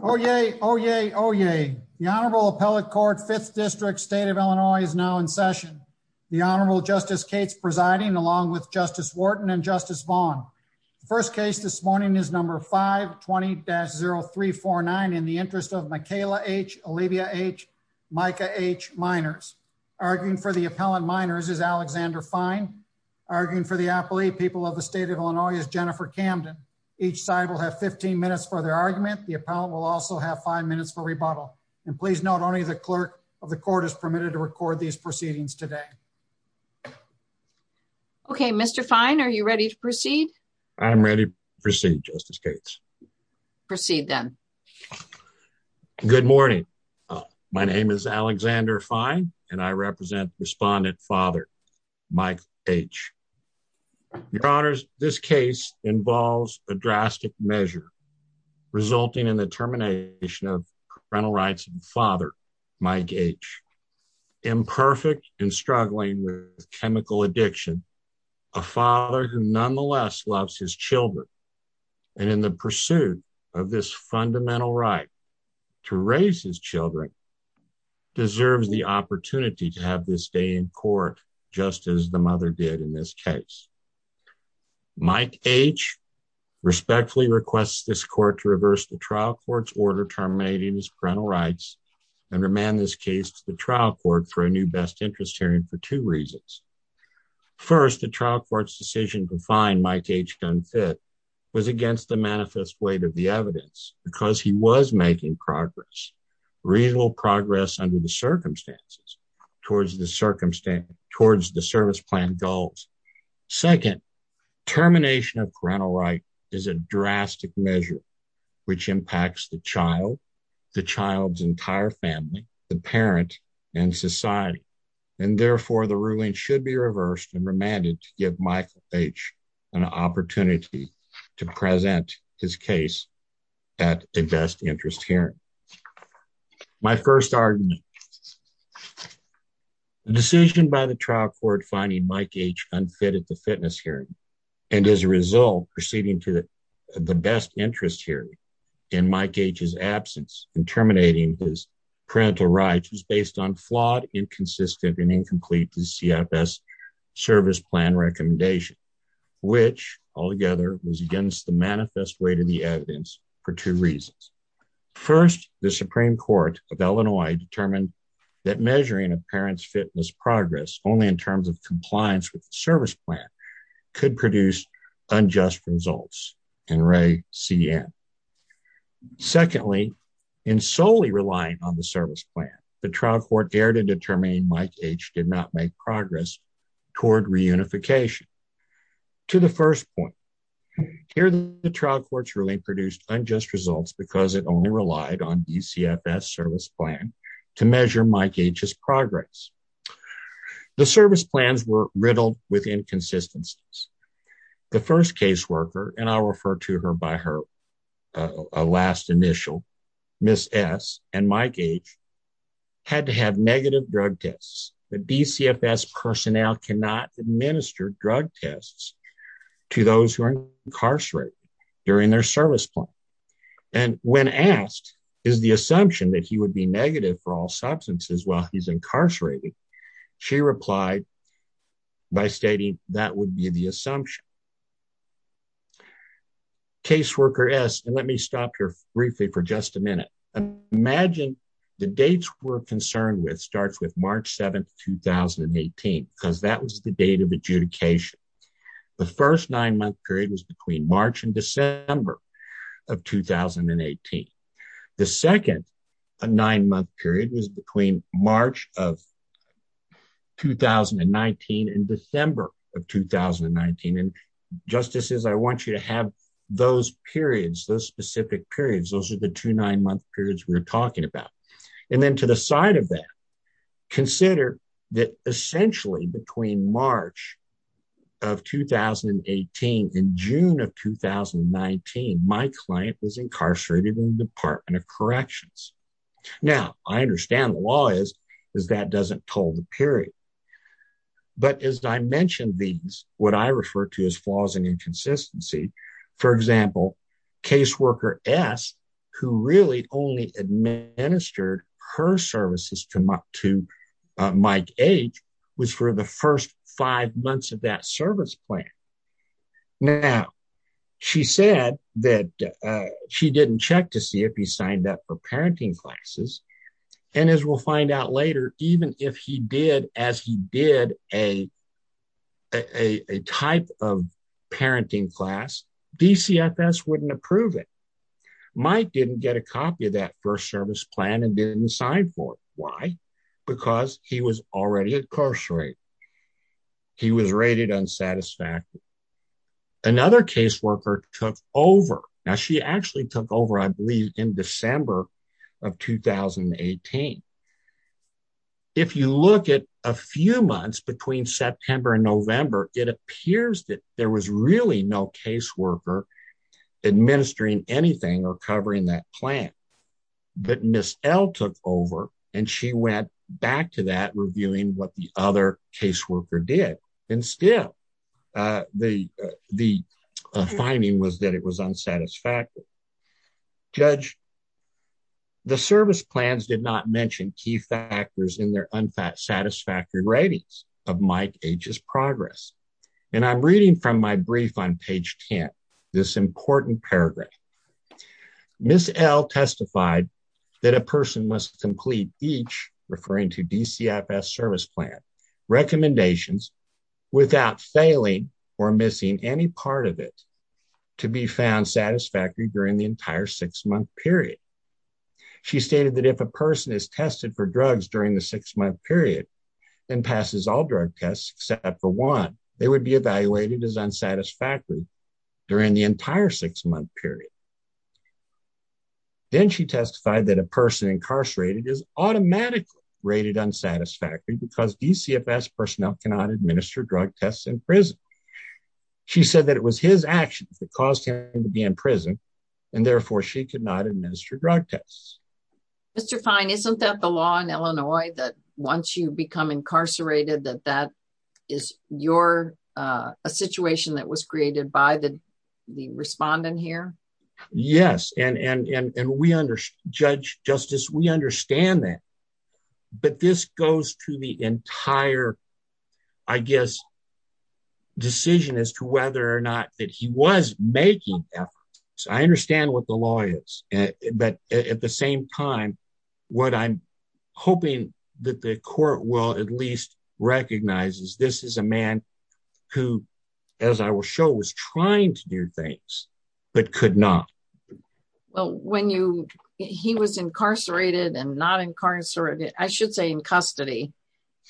Oh, yay. Oh, yay. Oh, yay. The Honorable Appellate Court Fifth District State of Illinois is now in session. The Honorable Justice Cates presiding along with Justice Wharton and Justice Vaughn. The first case this morning is number 520-0349 in the interest of Makayla H. Olivia H. Micah H. Minors. Arguing for the appellant minors is Alexander Fine. Arguing for the appellate people of the state of Illinois is Jennifer Camden. Each side will have 15 minutes for their argument. The appellant will also have five minutes for rebuttal. And please note only the clerk of the court is permitted to record these proceedings today. Okay, Mr. Fine, are you ready to proceed? I'm ready to proceed, Justice Cates. Proceed then. Good morning. My name is Alexander Fine, and I represent respondent father, Mike H. Your Honors, this case involves a drastic measure resulting in the termination of parental rights of father, Mike H. Imperfect and struggling with chemical addiction, a father who nonetheless loves his children and in the pursuit of this fundamental right to raise his children deserves the opportunity to have this day in court, just as the mother did in this case. Mike H. respectfully requests this court to reverse the trial court's order terminating his parental rights and remand this case to the trial court for a new best interest hearing for two reasons. First, the trial court's decision to find Mike H. unfit was against the manifest weight of the towards the service plan goals. Second, termination of parental right is a drastic measure which impacts the child, the child's entire family, the parent, and society. And therefore, the ruling should be reversed and remanded to give Mike H. an opportunity to present his case at a best interest hearing. My first argument, the decision by the trial court finding Mike H. unfit at the fitness hearing, and as a result, proceeding to the best interest hearing in Mike H.'s absence and terminating his parental rights was based on flawed, inconsistent, and incomplete the CFS service plan recommendation, which altogether was against the manifest weight of the evidence for two reasons. First, the Supreme Court of Illinois determined that measuring a parent's fitness progress only in terms of compliance with the service plan could produce unjust results, and Ray CN. Secondly, in solely relying on the service plan, the trial court dared to determine Mike H. did not make progress toward reunification. To the first point, here the trial court's ruling produced unjust results because it only relied on the CFS service plan to measure Mike H.'s progress. The service plans were riddled with inconsistencies. The first caseworker, and I'll refer to her by her last initial, Ms. S., and Mike H. had to have negative drug tests. The DCFS personnel cannot administer drug tests to those who are incarcerated during their service plan, and when asked is the assumption that he would be negative for all substances while he's incarcerated, she replied by stating that would be the assumption. Caseworker S., and let me stop here briefly for just a minute, imagine the dates we're concerned with starts with March 7, 2018, because that was the date of adjudication. The first nine-month period was between March and December of 2018. The second nine-month period was between March of 2019 and December of 2019, and justices, I want you to have those periods, those specific periods, those are the two nine-month periods we're talking about, and then to the side of that, consider that essentially between March of 2018 and June of 2019, my client was incarcerated in the Department of Corrections. Now, I understand the law is that doesn't toll the period, but as I mentioned these, what I refer to as flaws and inconsistency, for example, Caseworker S., who really only administered her services to Mike H., was for the first five months of that service plan. Now, she said that she didn't check to see if he signed up for parenting classes, and as we'll find out later, even if he did, as he did a type of parenting class, DCFS wouldn't approve it. Mike didn't get a copy of that first service plan and didn't sign for it. Why? Because he was already incarcerated. He was rated unsatisfactory. Another caseworker took over. Now, she actually took over, I believe, in December of 2018. If you look at a few months between September and November, it appears that there was really no caseworker administering anything or covering that plan, but Ms. L. took over, and she went back to that reviewing what the other caseworker did, and still the finding was that it was unsatisfactory. Judge, the service plans did not mention key factors in their unsatisfactory ratings of Mike H.'s progress, and I'm reading from my brief on page 10 this important paragraph. Ms. L. testified that a person must complete each, referring to DCFS service plan, recommendations without failing or missing any part of it to be found satisfactory during the entire six-month period. She stated that if a person is tested for drugs during the six-month period and passes all drug tests except for one, they would be evaluated as unsatisfactory during the entire six-month period. Then she testified that a person incarcerated is automatically rated unsatisfactory because DCFS personnel cannot administer drug tests in prison. She said that it was his actions that caused him to be in prison, and therefore she could not administer drug tests. Mr. Fine, isn't that the law in Illinois that once you become incarcerated that that is a situation that was created by the respondent here? Yes, and we understand that, but this goes to the entire, I guess, decision as to whether or not that he was making efforts. I understand what the law is, but at the same time, what I'm hoping that the court will at least recognize is this is a man who, as I will show, was trying to do things but could not. Well, when you, he was incarcerated and not incarcerated, I should say in custody.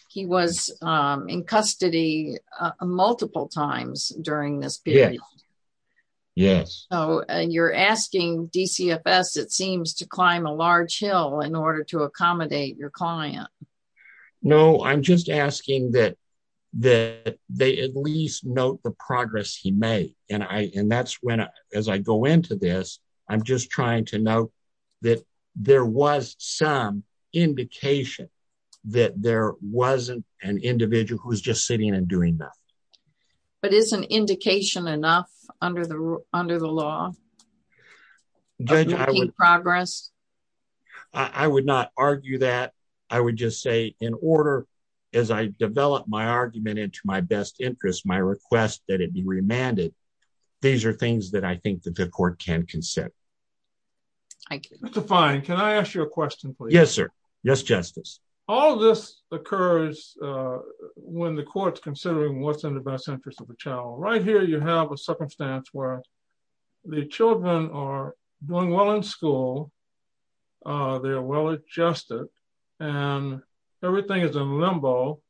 He was in custody multiple times during this period. Yes. Oh, and you're asking DCFS, it seems, to climb a large hill in order to accommodate your client. No, I'm just asking that that they at least note the progress he made, and that's when, as I go into this, I'm just trying to note that there was some indication that there wasn't an individual who was just sitting and doing nothing. But is an indication enough under the law? I would not argue that. I would just say, in order, as I develop my argument into my best interest, my request that it be remanded, these are things that I think the court can consent. Thank you. Mr. Fine, can I ask you a question, please? Yes, sir. Yes, Justice. All this occurs when the court's considering what's in the best interest of the child. Right here, you have a circumstance where the children are doing well in school. They are well adjusted, and everything is in limbo.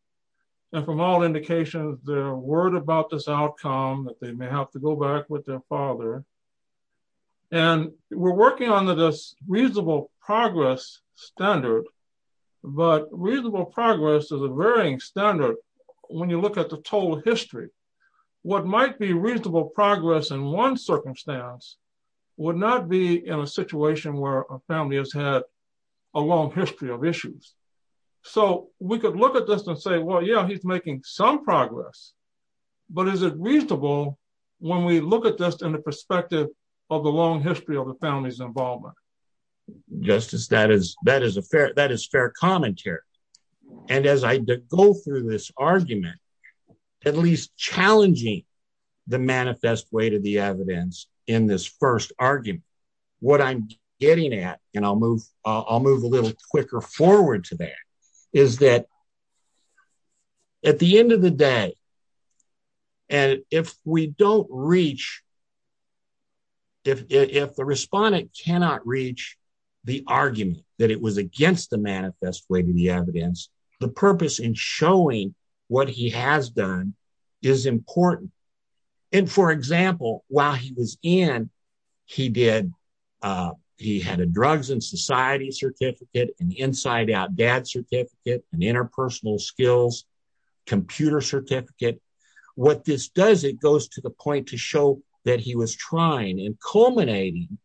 From all indications, they're worried about this outcome, that they may have to go back with their father. We're working on this reasonable progress standard, but reasonable progress is a varying standard when you look at the total history. What might be reasonable progress in one circumstance would not be in a situation where a family has had a long history of issues. We could look at this and say, yeah, he's making some progress, but is it reasonable when we look at this in the perspective of the long history of the family's involvement? Justice, that is fair commentary. As I go through this argument, at least challenging the manifest way to the evidence in this first argument, what I'm getting at, and I'll move a little quicker forward to that, is that at the end of the day, and if we don't reach, if the respondent cannot reach the argument that it was against the manifest way to the evidence, the purpose in showing what he has done is important. For example, while he was in, he had a Drugs and Society Certificate, an Inside Out Dad Certificate, an Interpersonal Skills Computer Certificate. What this does, it goes to the point to show that he was trying and culminating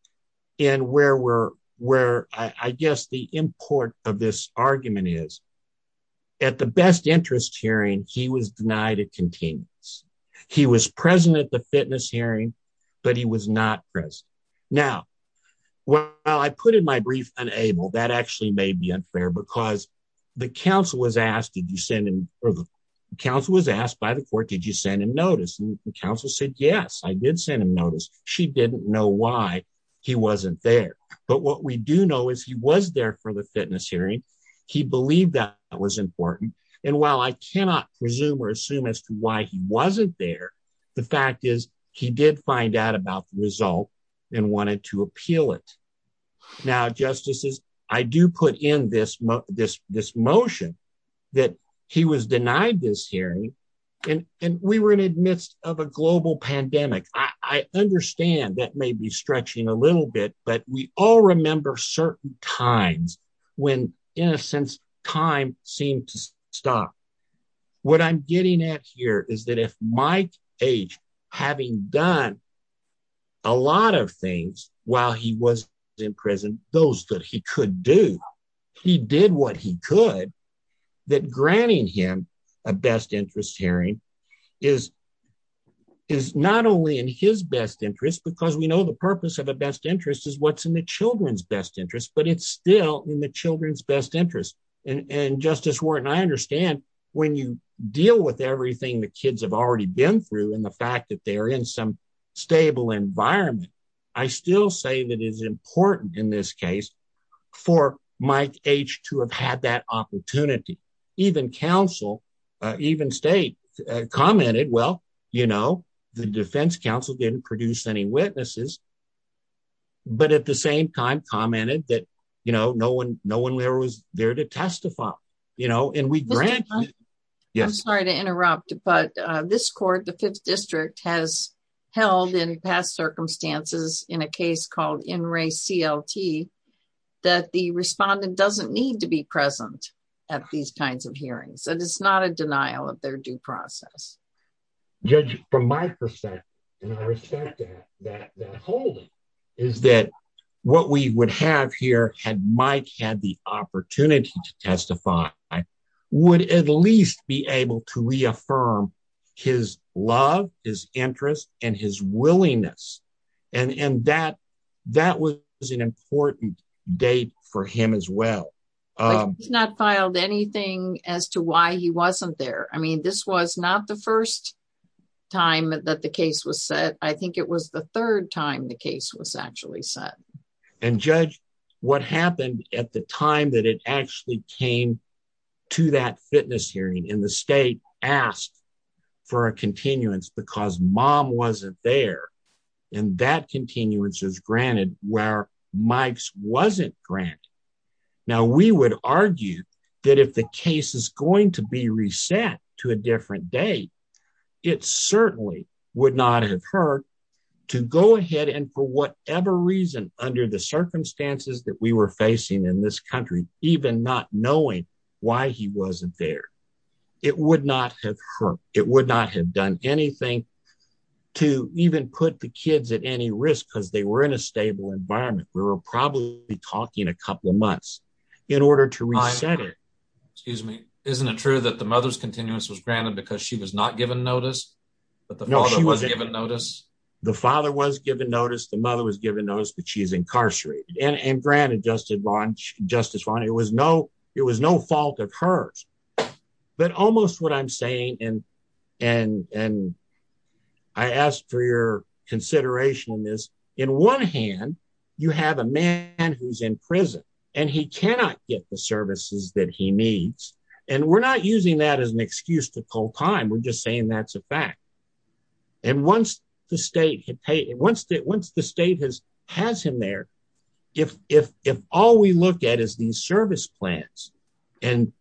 in where we're, where I guess the import of this argument is, at the best interest hearing, he was denied a continuance. He was present at the fitness hearing, but he was not present. Now, while I put in my brief, unable, that actually may be unfair because the counsel was asked, did you send him, or the counsel was asked by the court, did you send him notice? And the counsel said, yes, I did send him notice. She didn't know why he wasn't there. But what we do know is he was there for the fitness hearing. He believed that was important. And while I cannot presume or assume as to why he wasn't there, the fact is he did find out about the result and wanted to appeal it. Now, Justices, I do put in this motion that he was denied this hearing, and we were in the midst of a global pandemic. I understand that may be stretching a little bit, but we all remember certain times when, in a sense, time seemed to stop. What I'm getting at here is that if Mike H., having done a lot of things while he was in prison, those that he could do, he did what he could, that granting him a best interest hearing is not only in his best interest, because we know the purpose of a best interest is what's in the children's best interest, but it's still in the children's best interest. And Justice Wharton, I understand when you deal with everything the kids have already been through and the fact that they're in some stable environment, I still say that it's important in this case for Mike H. to have had that opportunity. Even counsel, even state, commented, well, you know, the defense counsel didn't produce any witnesses, but at the same time commented that, you know, no one there was there to testify, you know, and we granted... I'm sorry to interrupt, but this court, the Fifth District, has held in past circumstances, in a case called In Re CLT, that the respondent doesn't need to be present at these kinds of hearings, and it's not a denial of their due process. Judge, from my perspective, and I respect that holding, is that what we would have here had had the opportunity to testify, would at least be able to reaffirm his love, his interest, and his willingness, and that was an important date for him as well. He's not filed anything as to why he wasn't there. I mean, this was not the first time that the case was set. I think it was the third time the case was actually set. And Judge, what happened at the time that it actually came to that fitness hearing, and the state asked for a continuance because mom wasn't there, and that continuance is granted where Mike's wasn't granted. Now, we would argue that if the case is going to be reset to a different date, it certainly would not have hurt to go ahead and for whatever reason, under the circumstances that we were facing in this country, even not knowing why he wasn't there. It would not have hurt. It would not have done anything to even put the kids at any risk because they were in a stable environment. We were probably talking a couple of months in order to excuse me. Isn't it true that the mother's continuance was granted because she was not given notice, but the father was given notice? The father was given notice, the mother was given notice, but she's incarcerated. And granted, Justice Vaughn, it was no fault of hers. But almost what I'm saying, and I ask for your consideration in this, in one hand, you have a man who's in prison, and he cannot get the services that he needs. And we're not using that as an excuse to pull time. We're just saying that's a fact. And once the state has him there, if all we look at is these service plans, and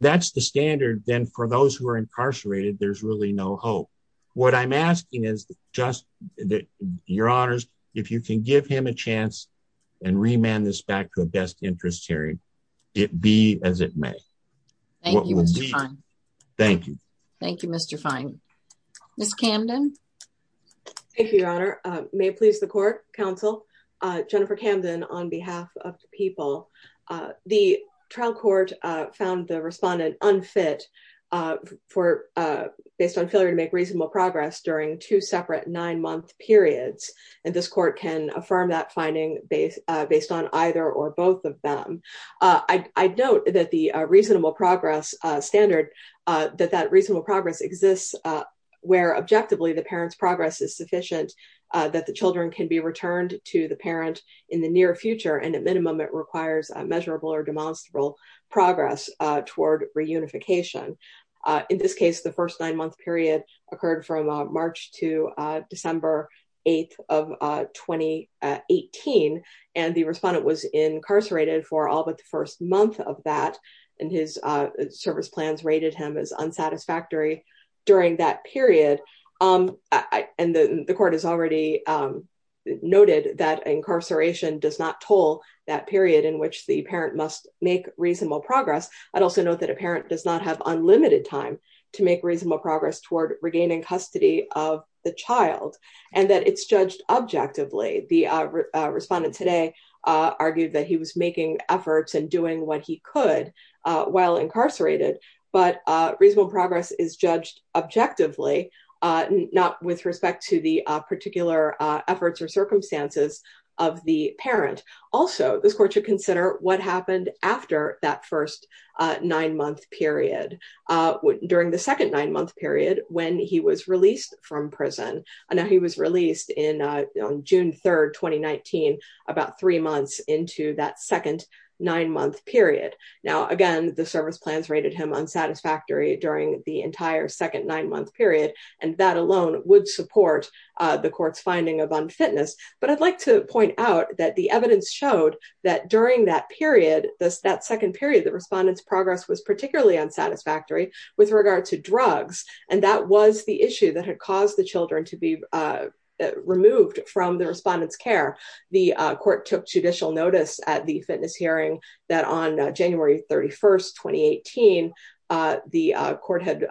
that's the standard, then for those who are incarcerated, there's really no hope. What I'm asking is just that, your honors, if you can give a chance and remand this back to a best interest hearing, it be as it may. Thank you. Thank you. Thank you, Mr. Fine. Ms. Camden. Thank you, your honor. May it please the court, counsel. Jennifer Camden on behalf of the people. The trial court found the respondent unfit based on failure to make reasonable progress during two nine-month periods. And this court can affirm that finding based on either or both of them. I note that the reasonable progress standard, that that reasonable progress exists where objectively the parent's progress is sufficient, that the children can be returned to the parent in the near future. And at minimum, it requires a measurable or demonstrable progress toward reunification. In this case, the first nine-month period occurred from March to December 8th of 2018. And the respondent was incarcerated for all but the first month of that. And his service plans rated him as unsatisfactory during that period. And the court has already noted that incarceration does not toll that period in which the parent must make reasonable progress. I'd also note that a parent does not have unlimited time to make reasonable progress toward regaining custody of the child and that it's judged objectively. The respondent today argued that he was making efforts and doing what he could while incarcerated, but reasonable progress is judged objectively, not with respect to the particular efforts or circumstances of the parent. Also, this court should consider what happened after that first nine-month period. During the second nine-month period, when he was released from prison, he was released on June 3rd, 2019, about three months into that second nine-month period. Now, again, the service plans rated him unsatisfactory during the entire second nine-month period, and that alone would support the court's finding of unfitness. But I'd like to point out that the evidence showed that during that period, that second period, the respondent's progress was particularly unsatisfactory with regard to drugs. And that was the issue that had caused the children to be removed from the respondent's care. The court took judicial notice at the fitness hearing that on January 31st, 2018, the court had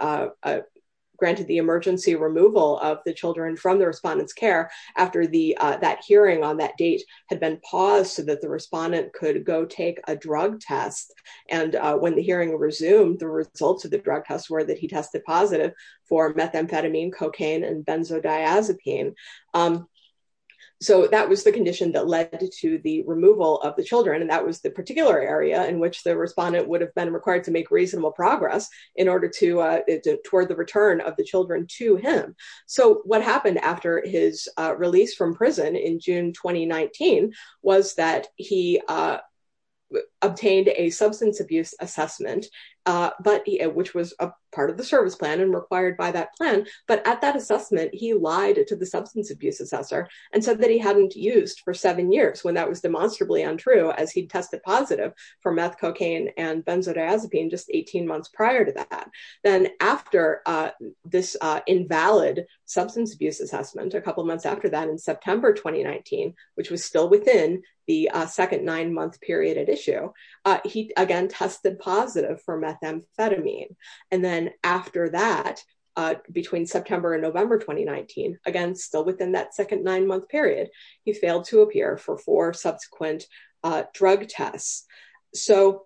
granted the emergency removal of the children from the respondent's care after that hearing on that date had been paused so that the respondent could go take a drug test. And when the hearing resumed, the results of the drug test were that he tested positive for methamphetamine, cocaine, and benzodiazepine. So that was the condition that led to the removal of the children, and that was the particular area in which the respondent would have been required to make reasonable progress in order toward the return of the children to him. So what happened after his release from prison in June 2019 was that he obtained a substance abuse assessment, which was a part of the service plan and required by that plan. But at that assessment, he lied to the substance abuse assessor and said that he hadn't used for seven years, when that was demonstrably untrue, as he tested positive for meth, cocaine, and benzodiazepine just 18 months prior to that. Then after this invalid substance abuse assessment, a couple months after that in September 2019, which was still within the second nine-month period at issue, he again tested positive for methamphetamine. And then after that, between September and November 2019, again, still within that second nine-month period, he failed to appear for four subsequent drug tests. So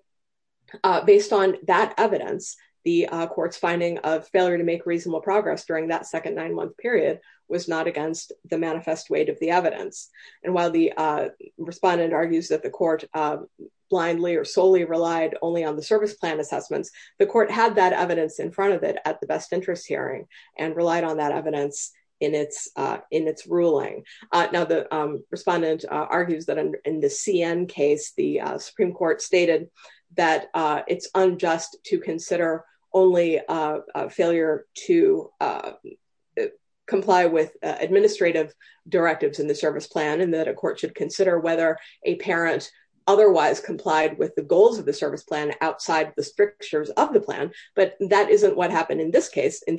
based on that evidence, the court's finding of failure to make reasonable progress during that second nine-month period was not against the manifest weight of the evidence. And while the respondent argues that the court blindly or solely relied only on the service plan assessments, the court had that evidence in front of it at the best interest hearing and relied on that evidence in its ruling. Now, the respondent argues that in the CN case, the Supreme Court stated that it's unjust to consider only a failure to comply with administrative directives in the service plan and that a court should consider whether a parent otherwise complied with the goals of the service plan outside the strictures of the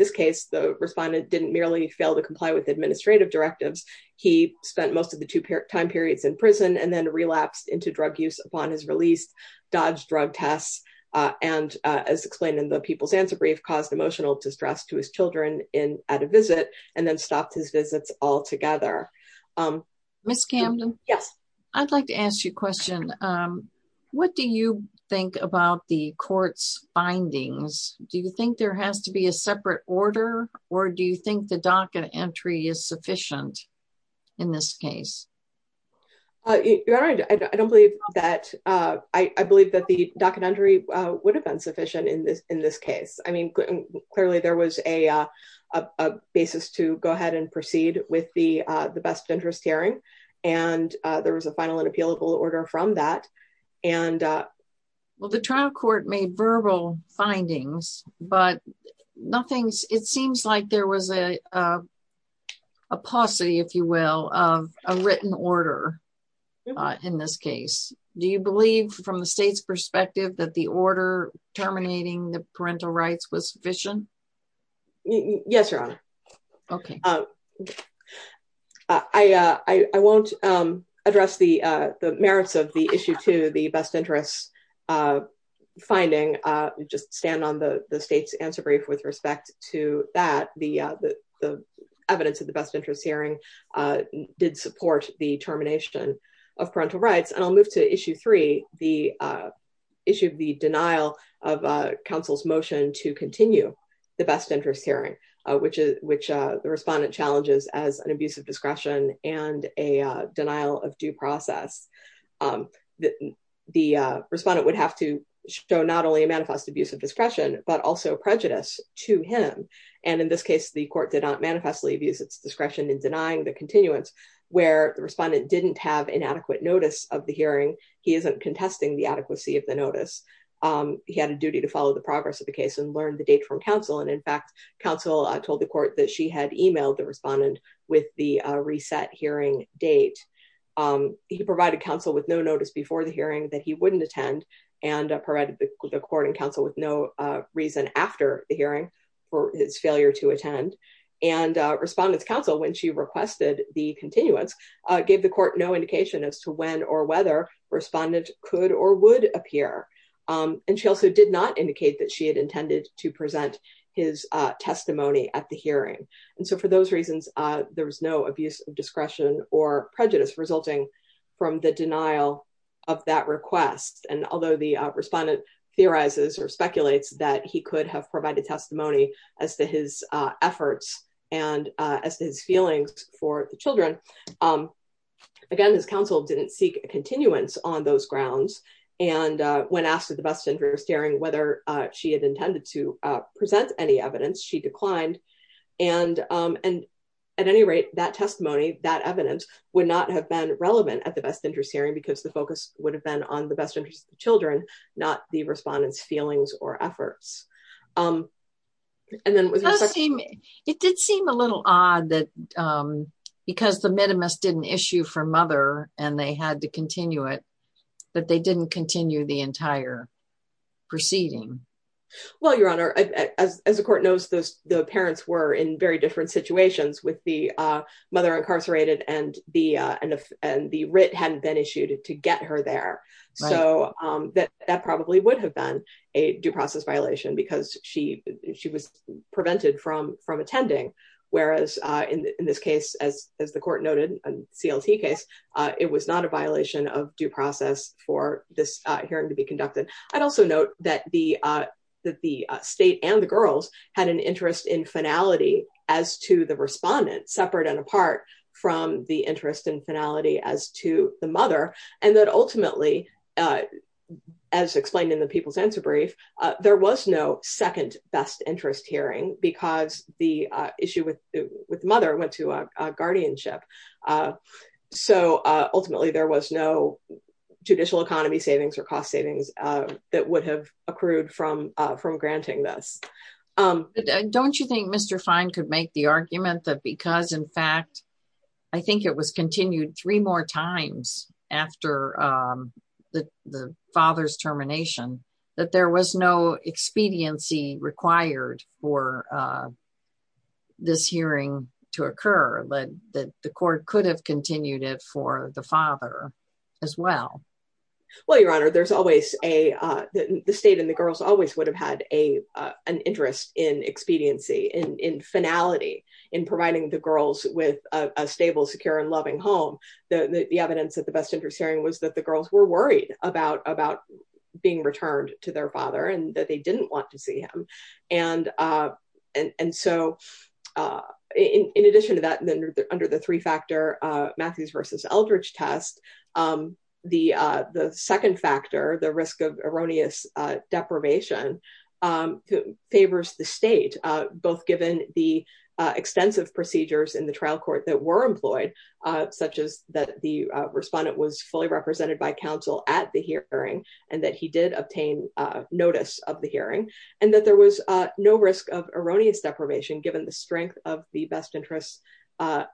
response. The respondent didn't merely fail to comply with administrative directives. He spent most of the two time periods in prison and then relapsed into drug use upon his release, dodged drug tests, and as explained in the People's Answer Brief, caused emotional distress to his children at a visit and then stopped his visits altogether. Ms. Camden? Yes. I'd like to ask you a question. What do you think about the court's findings? Do you think there has to be a separate order, or do you think the docket entry is sufficient in this case? I don't believe that. I believe that the docket entry would have been sufficient in this case. Clearly, there was a basis to go ahead and proceed with the best interest hearing, and there was a final and appealable order from that. Well, the trial court made verbal findings, but it seems like there was a paucity, if you will, of a written order in this case. Do you believe from the state's perspective that the order terminating the parental rights was sufficient? Yes, Your Honor. Okay. I won't address the merits of the issue two, the best interest finding. I'll just stand on the state's answer brief with respect to that. The evidence of the best interest hearing did support the termination of parental rights. I'll move to issue three, the issue of the denial of counsel's motion to continue the best interest hearing, which the respondent challenges as an abuse of discretion and a denial of due process. The respondent would have to show not only a manifest abuse of discretion, but also prejudice to him. In this case, the court did not manifestly abuse its discretion in denying the continuance, where the respondent didn't have inadequate notice of the hearing. He isn't contesting the adequacy of the notice. He had a duty to follow the progress of the case and learn the date from counsel. In fact, counsel told the court that she had emailed the respondent with the reset hearing date. He provided counsel with no notice before the hearing that he wouldn't attend and provided the court and counsel with no reason after the hearing for his failure to attend. Respondent's counsel, when she requested the continuance, gave the court no indication as to when or whether respondent could or would appear. She also did not indicate that she had intended to present his testimony at the hearing. For those reasons, there was no abuse of discretion or prejudice resulting from the denial of that request. Although the respondent theorizes or speculates that he could have provided testimony as to his efforts and as to his feelings for the children, again, his counsel didn't seek continuance on those grounds. When asked at the best interest hearing whether she had intended to present any evidence, she declined. At any rate, that testimony, that evidence would not have been relevant at the best interest hearing because the focus would have been on the best interest of the children, not the respondent's feelings or efforts. Then with respect to- Well, Your Honor, as the court knows, the parents were in very different situations with the mother incarcerated and the writ hadn't been issued to get her there. So that probably would have been a due process violation because she was prevented from attending, whereas in this case, as the court noted in the CLT case, it was not a violation of due process for this hearing to be conducted. I'd also note that the state and the girls had an interest in finality as to the respondent, separate and apart from the interest in finality as to the mother, and that ultimately, as explained in the People's Answer Brief, there was no second best interest hearing because the issue with the guardianship. So ultimately, there was no judicial economy savings or cost savings that would have accrued from granting this. Don't you think Mr. Fine could make the argument that because, in fact, I think it was continued three more times after the father's termination, that there was no expediency required for this hearing to occur, that the court could have continued it for the father as well? Well, Your Honor, there's always a- the state and the girls always would have had an interest in expediency, in finality, in providing the girls with a stable, secure, and loving home. The evidence that the best interest hearing was that the girls were to their father and that they didn't want to see him. And so, in addition to that, under the three-factor Matthews versus Eldridge test, the second factor, the risk of erroneous deprivation, favors the state, both given the extensive procedures in the trial court that were employed, such as that the respondent was fully represented by counsel at the hearing, and that he did obtain notice of the hearing, and that there was no risk of erroneous deprivation, given the strength of the best interest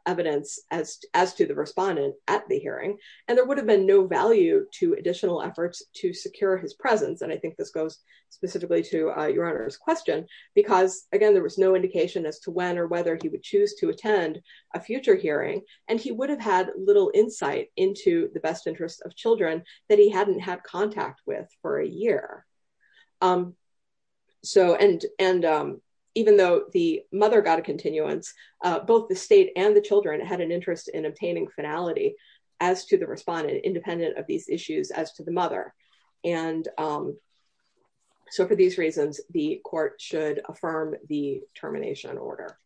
evidence as to the respondent at the hearing, and there would have been no value to additional efforts to secure his presence. And I think this goes specifically to Your Honor's question, because, again, there was no indication as to when or whether he would choose to attend a future hearing, and he would have had little insight into the best interest of children that he hadn't had contact with for a year. So, and even though the mother got a continuance, both the state and the children had an interest in obtaining finality as to the respondent, independent of these issues as to the mother. And so, for these reasons, the court should affirm the termination order.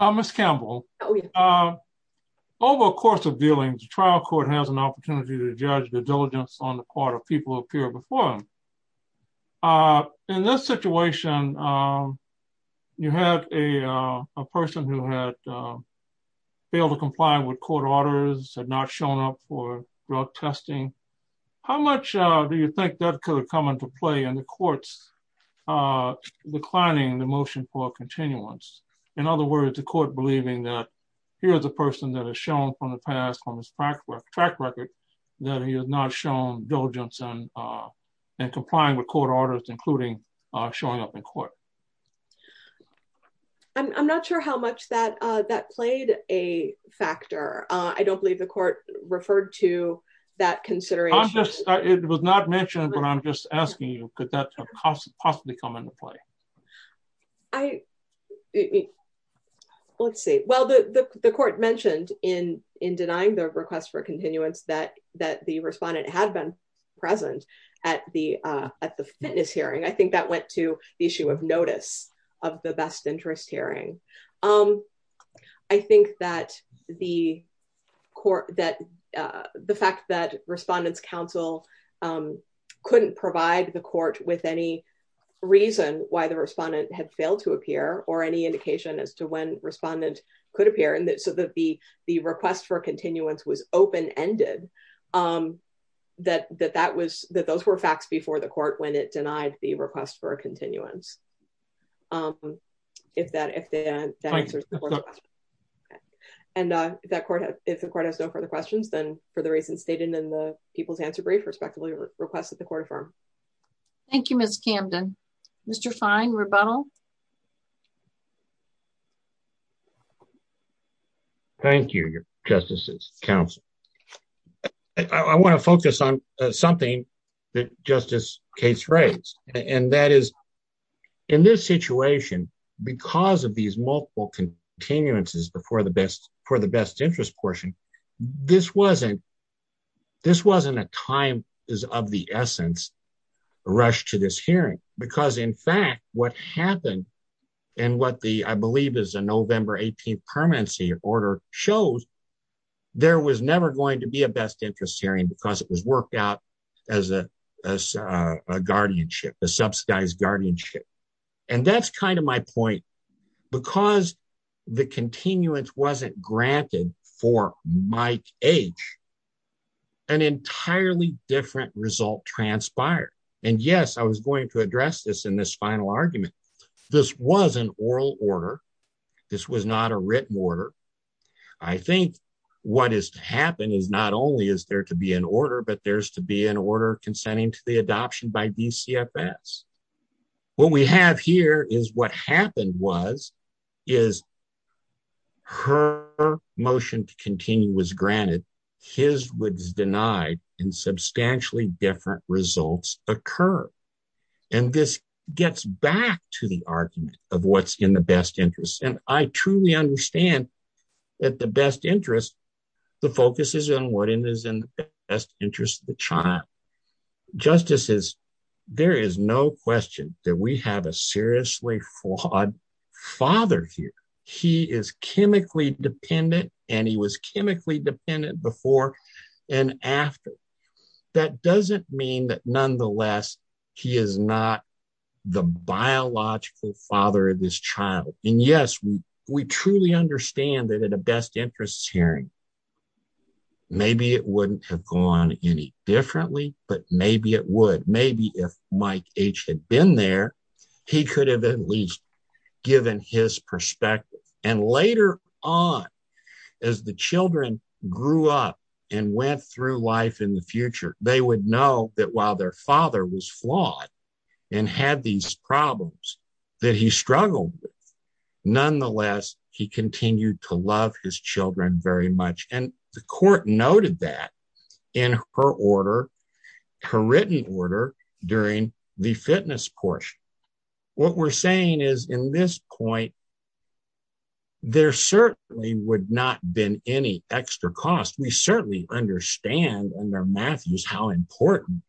Ms. Campbell, over the course of dealings, the trial court has an opportunity to judge the diligence on the part of people who appeared before him. In this situation, you had a person who had failed to comply with court orders, had not shown up for drug testing. How much do you think that could have come into play in the court's declining the motion for continuance? In other words, the court believing that here's a person that has shown from the past on his track record that he has not shown diligence in complying with court orders, including showing up in court. I'm not sure how much that played a factor. I don't believe the court referred to that consideration. It was not mentioned, but I'm just asking you, could that have possibly come into play? Let's see. Well, the court mentioned in denying the request for continuance that the respondent had been present at the fitness hearing. I think that went to the issue of notice of the best interest hearing. I think that the fact that respondent's counsel couldn't provide the court with any reason why the respondent had failed to appear or any indication as to when respondent could appear, so that the request for continuance was open-ended, that those were facts before the court when it denied the request for a continuance. If that answers the court's question. If the court has no further questions, then for the reasons stated in the people's answer brief, respectively, request that the court affirm. Thank you, Ms. Camden. Mr. Fine, rebuttal. Thank you, your justices, counsel. I want to focus on something that Justice Cates raised, and that is in this situation, because of these multiple continuances for the best interest portion, this wasn't a time of the essence rush to this hearing. Because in fact, what happened and what the, I believe is a November 18th permanency order shows, there was never going to be a best interest hearing because it was worked out as a guardianship, a subsidized guardianship. And that's kind of my point. Because the continuance wasn't granted for my age, an entirely different result transpired. And yes, I was going to address this in this final argument. This was an oral order. This was not a written order. I think what is to happen is not only is there to be an order, but there's to be an order consenting to the adoption by DCFS. What we have here is what happened was, is her motion to continue was granted. His was denied and substantially different results occur. And this gets back to the argument of what's in the best interest. And I truly understand that the best interest, the focus is on what is in the best interest of the child. Justices, there is no question that we have a seriously flawed father here. He is chemically dependent and he was chemically dependent before and after. That doesn't mean that nonetheless, he is not the biological father of this child. And yes, we truly understand that at a best interest hearing, maybe it wouldn't have gone any differently, but maybe it would. Maybe if Mike H had been there, he could have at least given his perspective. And later on, as the children grew up and went through life in the future, they would know that while their father was flawed and had these problems that he struggled with, nonetheless, he continued to love his children very much. And the court noted that in her written order during the fitness portion. What we're saying is in this point, there certainly would not been any extra cost. We certainly understand under Matthews how important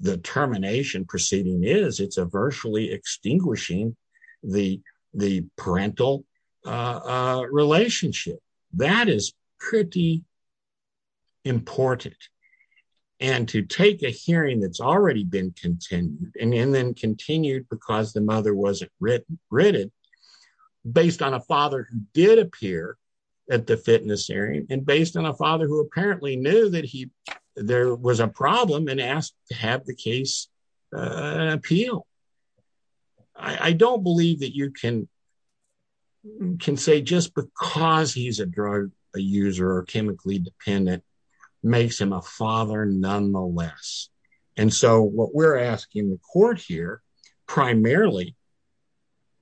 the termination proceeding is. It's a virtually extinguishing the parental relationship. That is pretty important. And to take a hearing that's already been continued, and then continued because the mother wasn't written, based on a father who did appear at the fitness hearing and based on a father who apparently knew that he, there was a problem and asked to have the case appeal. I don't believe that you can say just because he's a drug user or chemically dependent makes him a father nonetheless. And so what we're asking the court here, primarily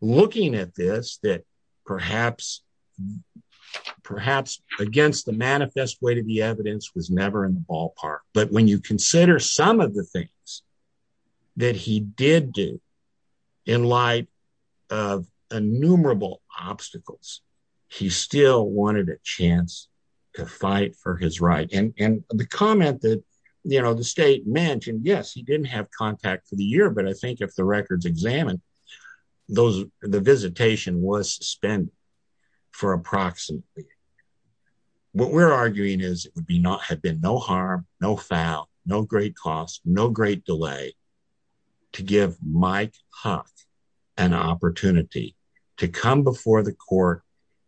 looking at this, that perhaps against the manifest way to the evidence was never in the ballpark. But when you consider some of the things that he did do in light of innumerable obstacles, he still wanted a chance to fight for his right. And the comment that the state mentioned, yes, he didn't have contact for the year, but I think if the records examined, the visitation was suspended for approximately. What we're arguing is it would be not had been no harm, no foul, no great cost, no great delay to give Mike Huff an opportunity to come before the court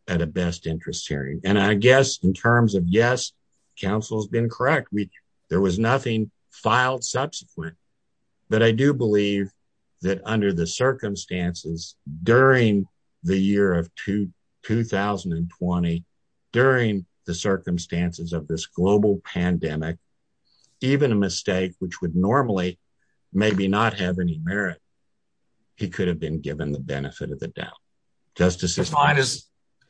at a best interest hearing. And I guess in terms of yes, counsel has been correct. There was nothing filed subsequent, but I do believe that under the circumstances during the year of two 2020, during the circumstances of this global pandemic, even a mistake, which would normally maybe not have any merit, he could have been given the benefit of the doubt. Justice is fine is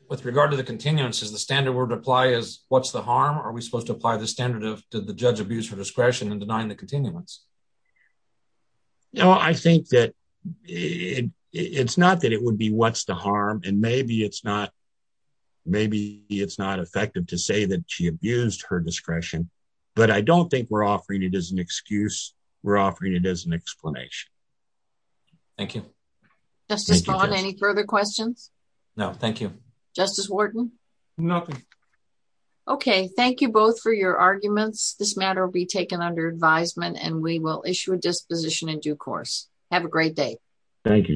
with regard to the continuance is the standard word apply is what's the harm? Are we supposed to apply the standard of did the judge abuse her discretion and denying the continuance? No, I think that it's not that it would be what's the harm. And maybe it's not. Maybe it's not effective to say that she abused her discretion. But I don't think we're offering it as an excuse. We're offering it as an explanation. Thank you. Justice, any further questions? No, thank you. Justice Wharton. Nothing. Okay, thank you both for your arguments. This matter will be taken under advisement and we will issue a disposition in due course. Have a great day. Thank you, Justices.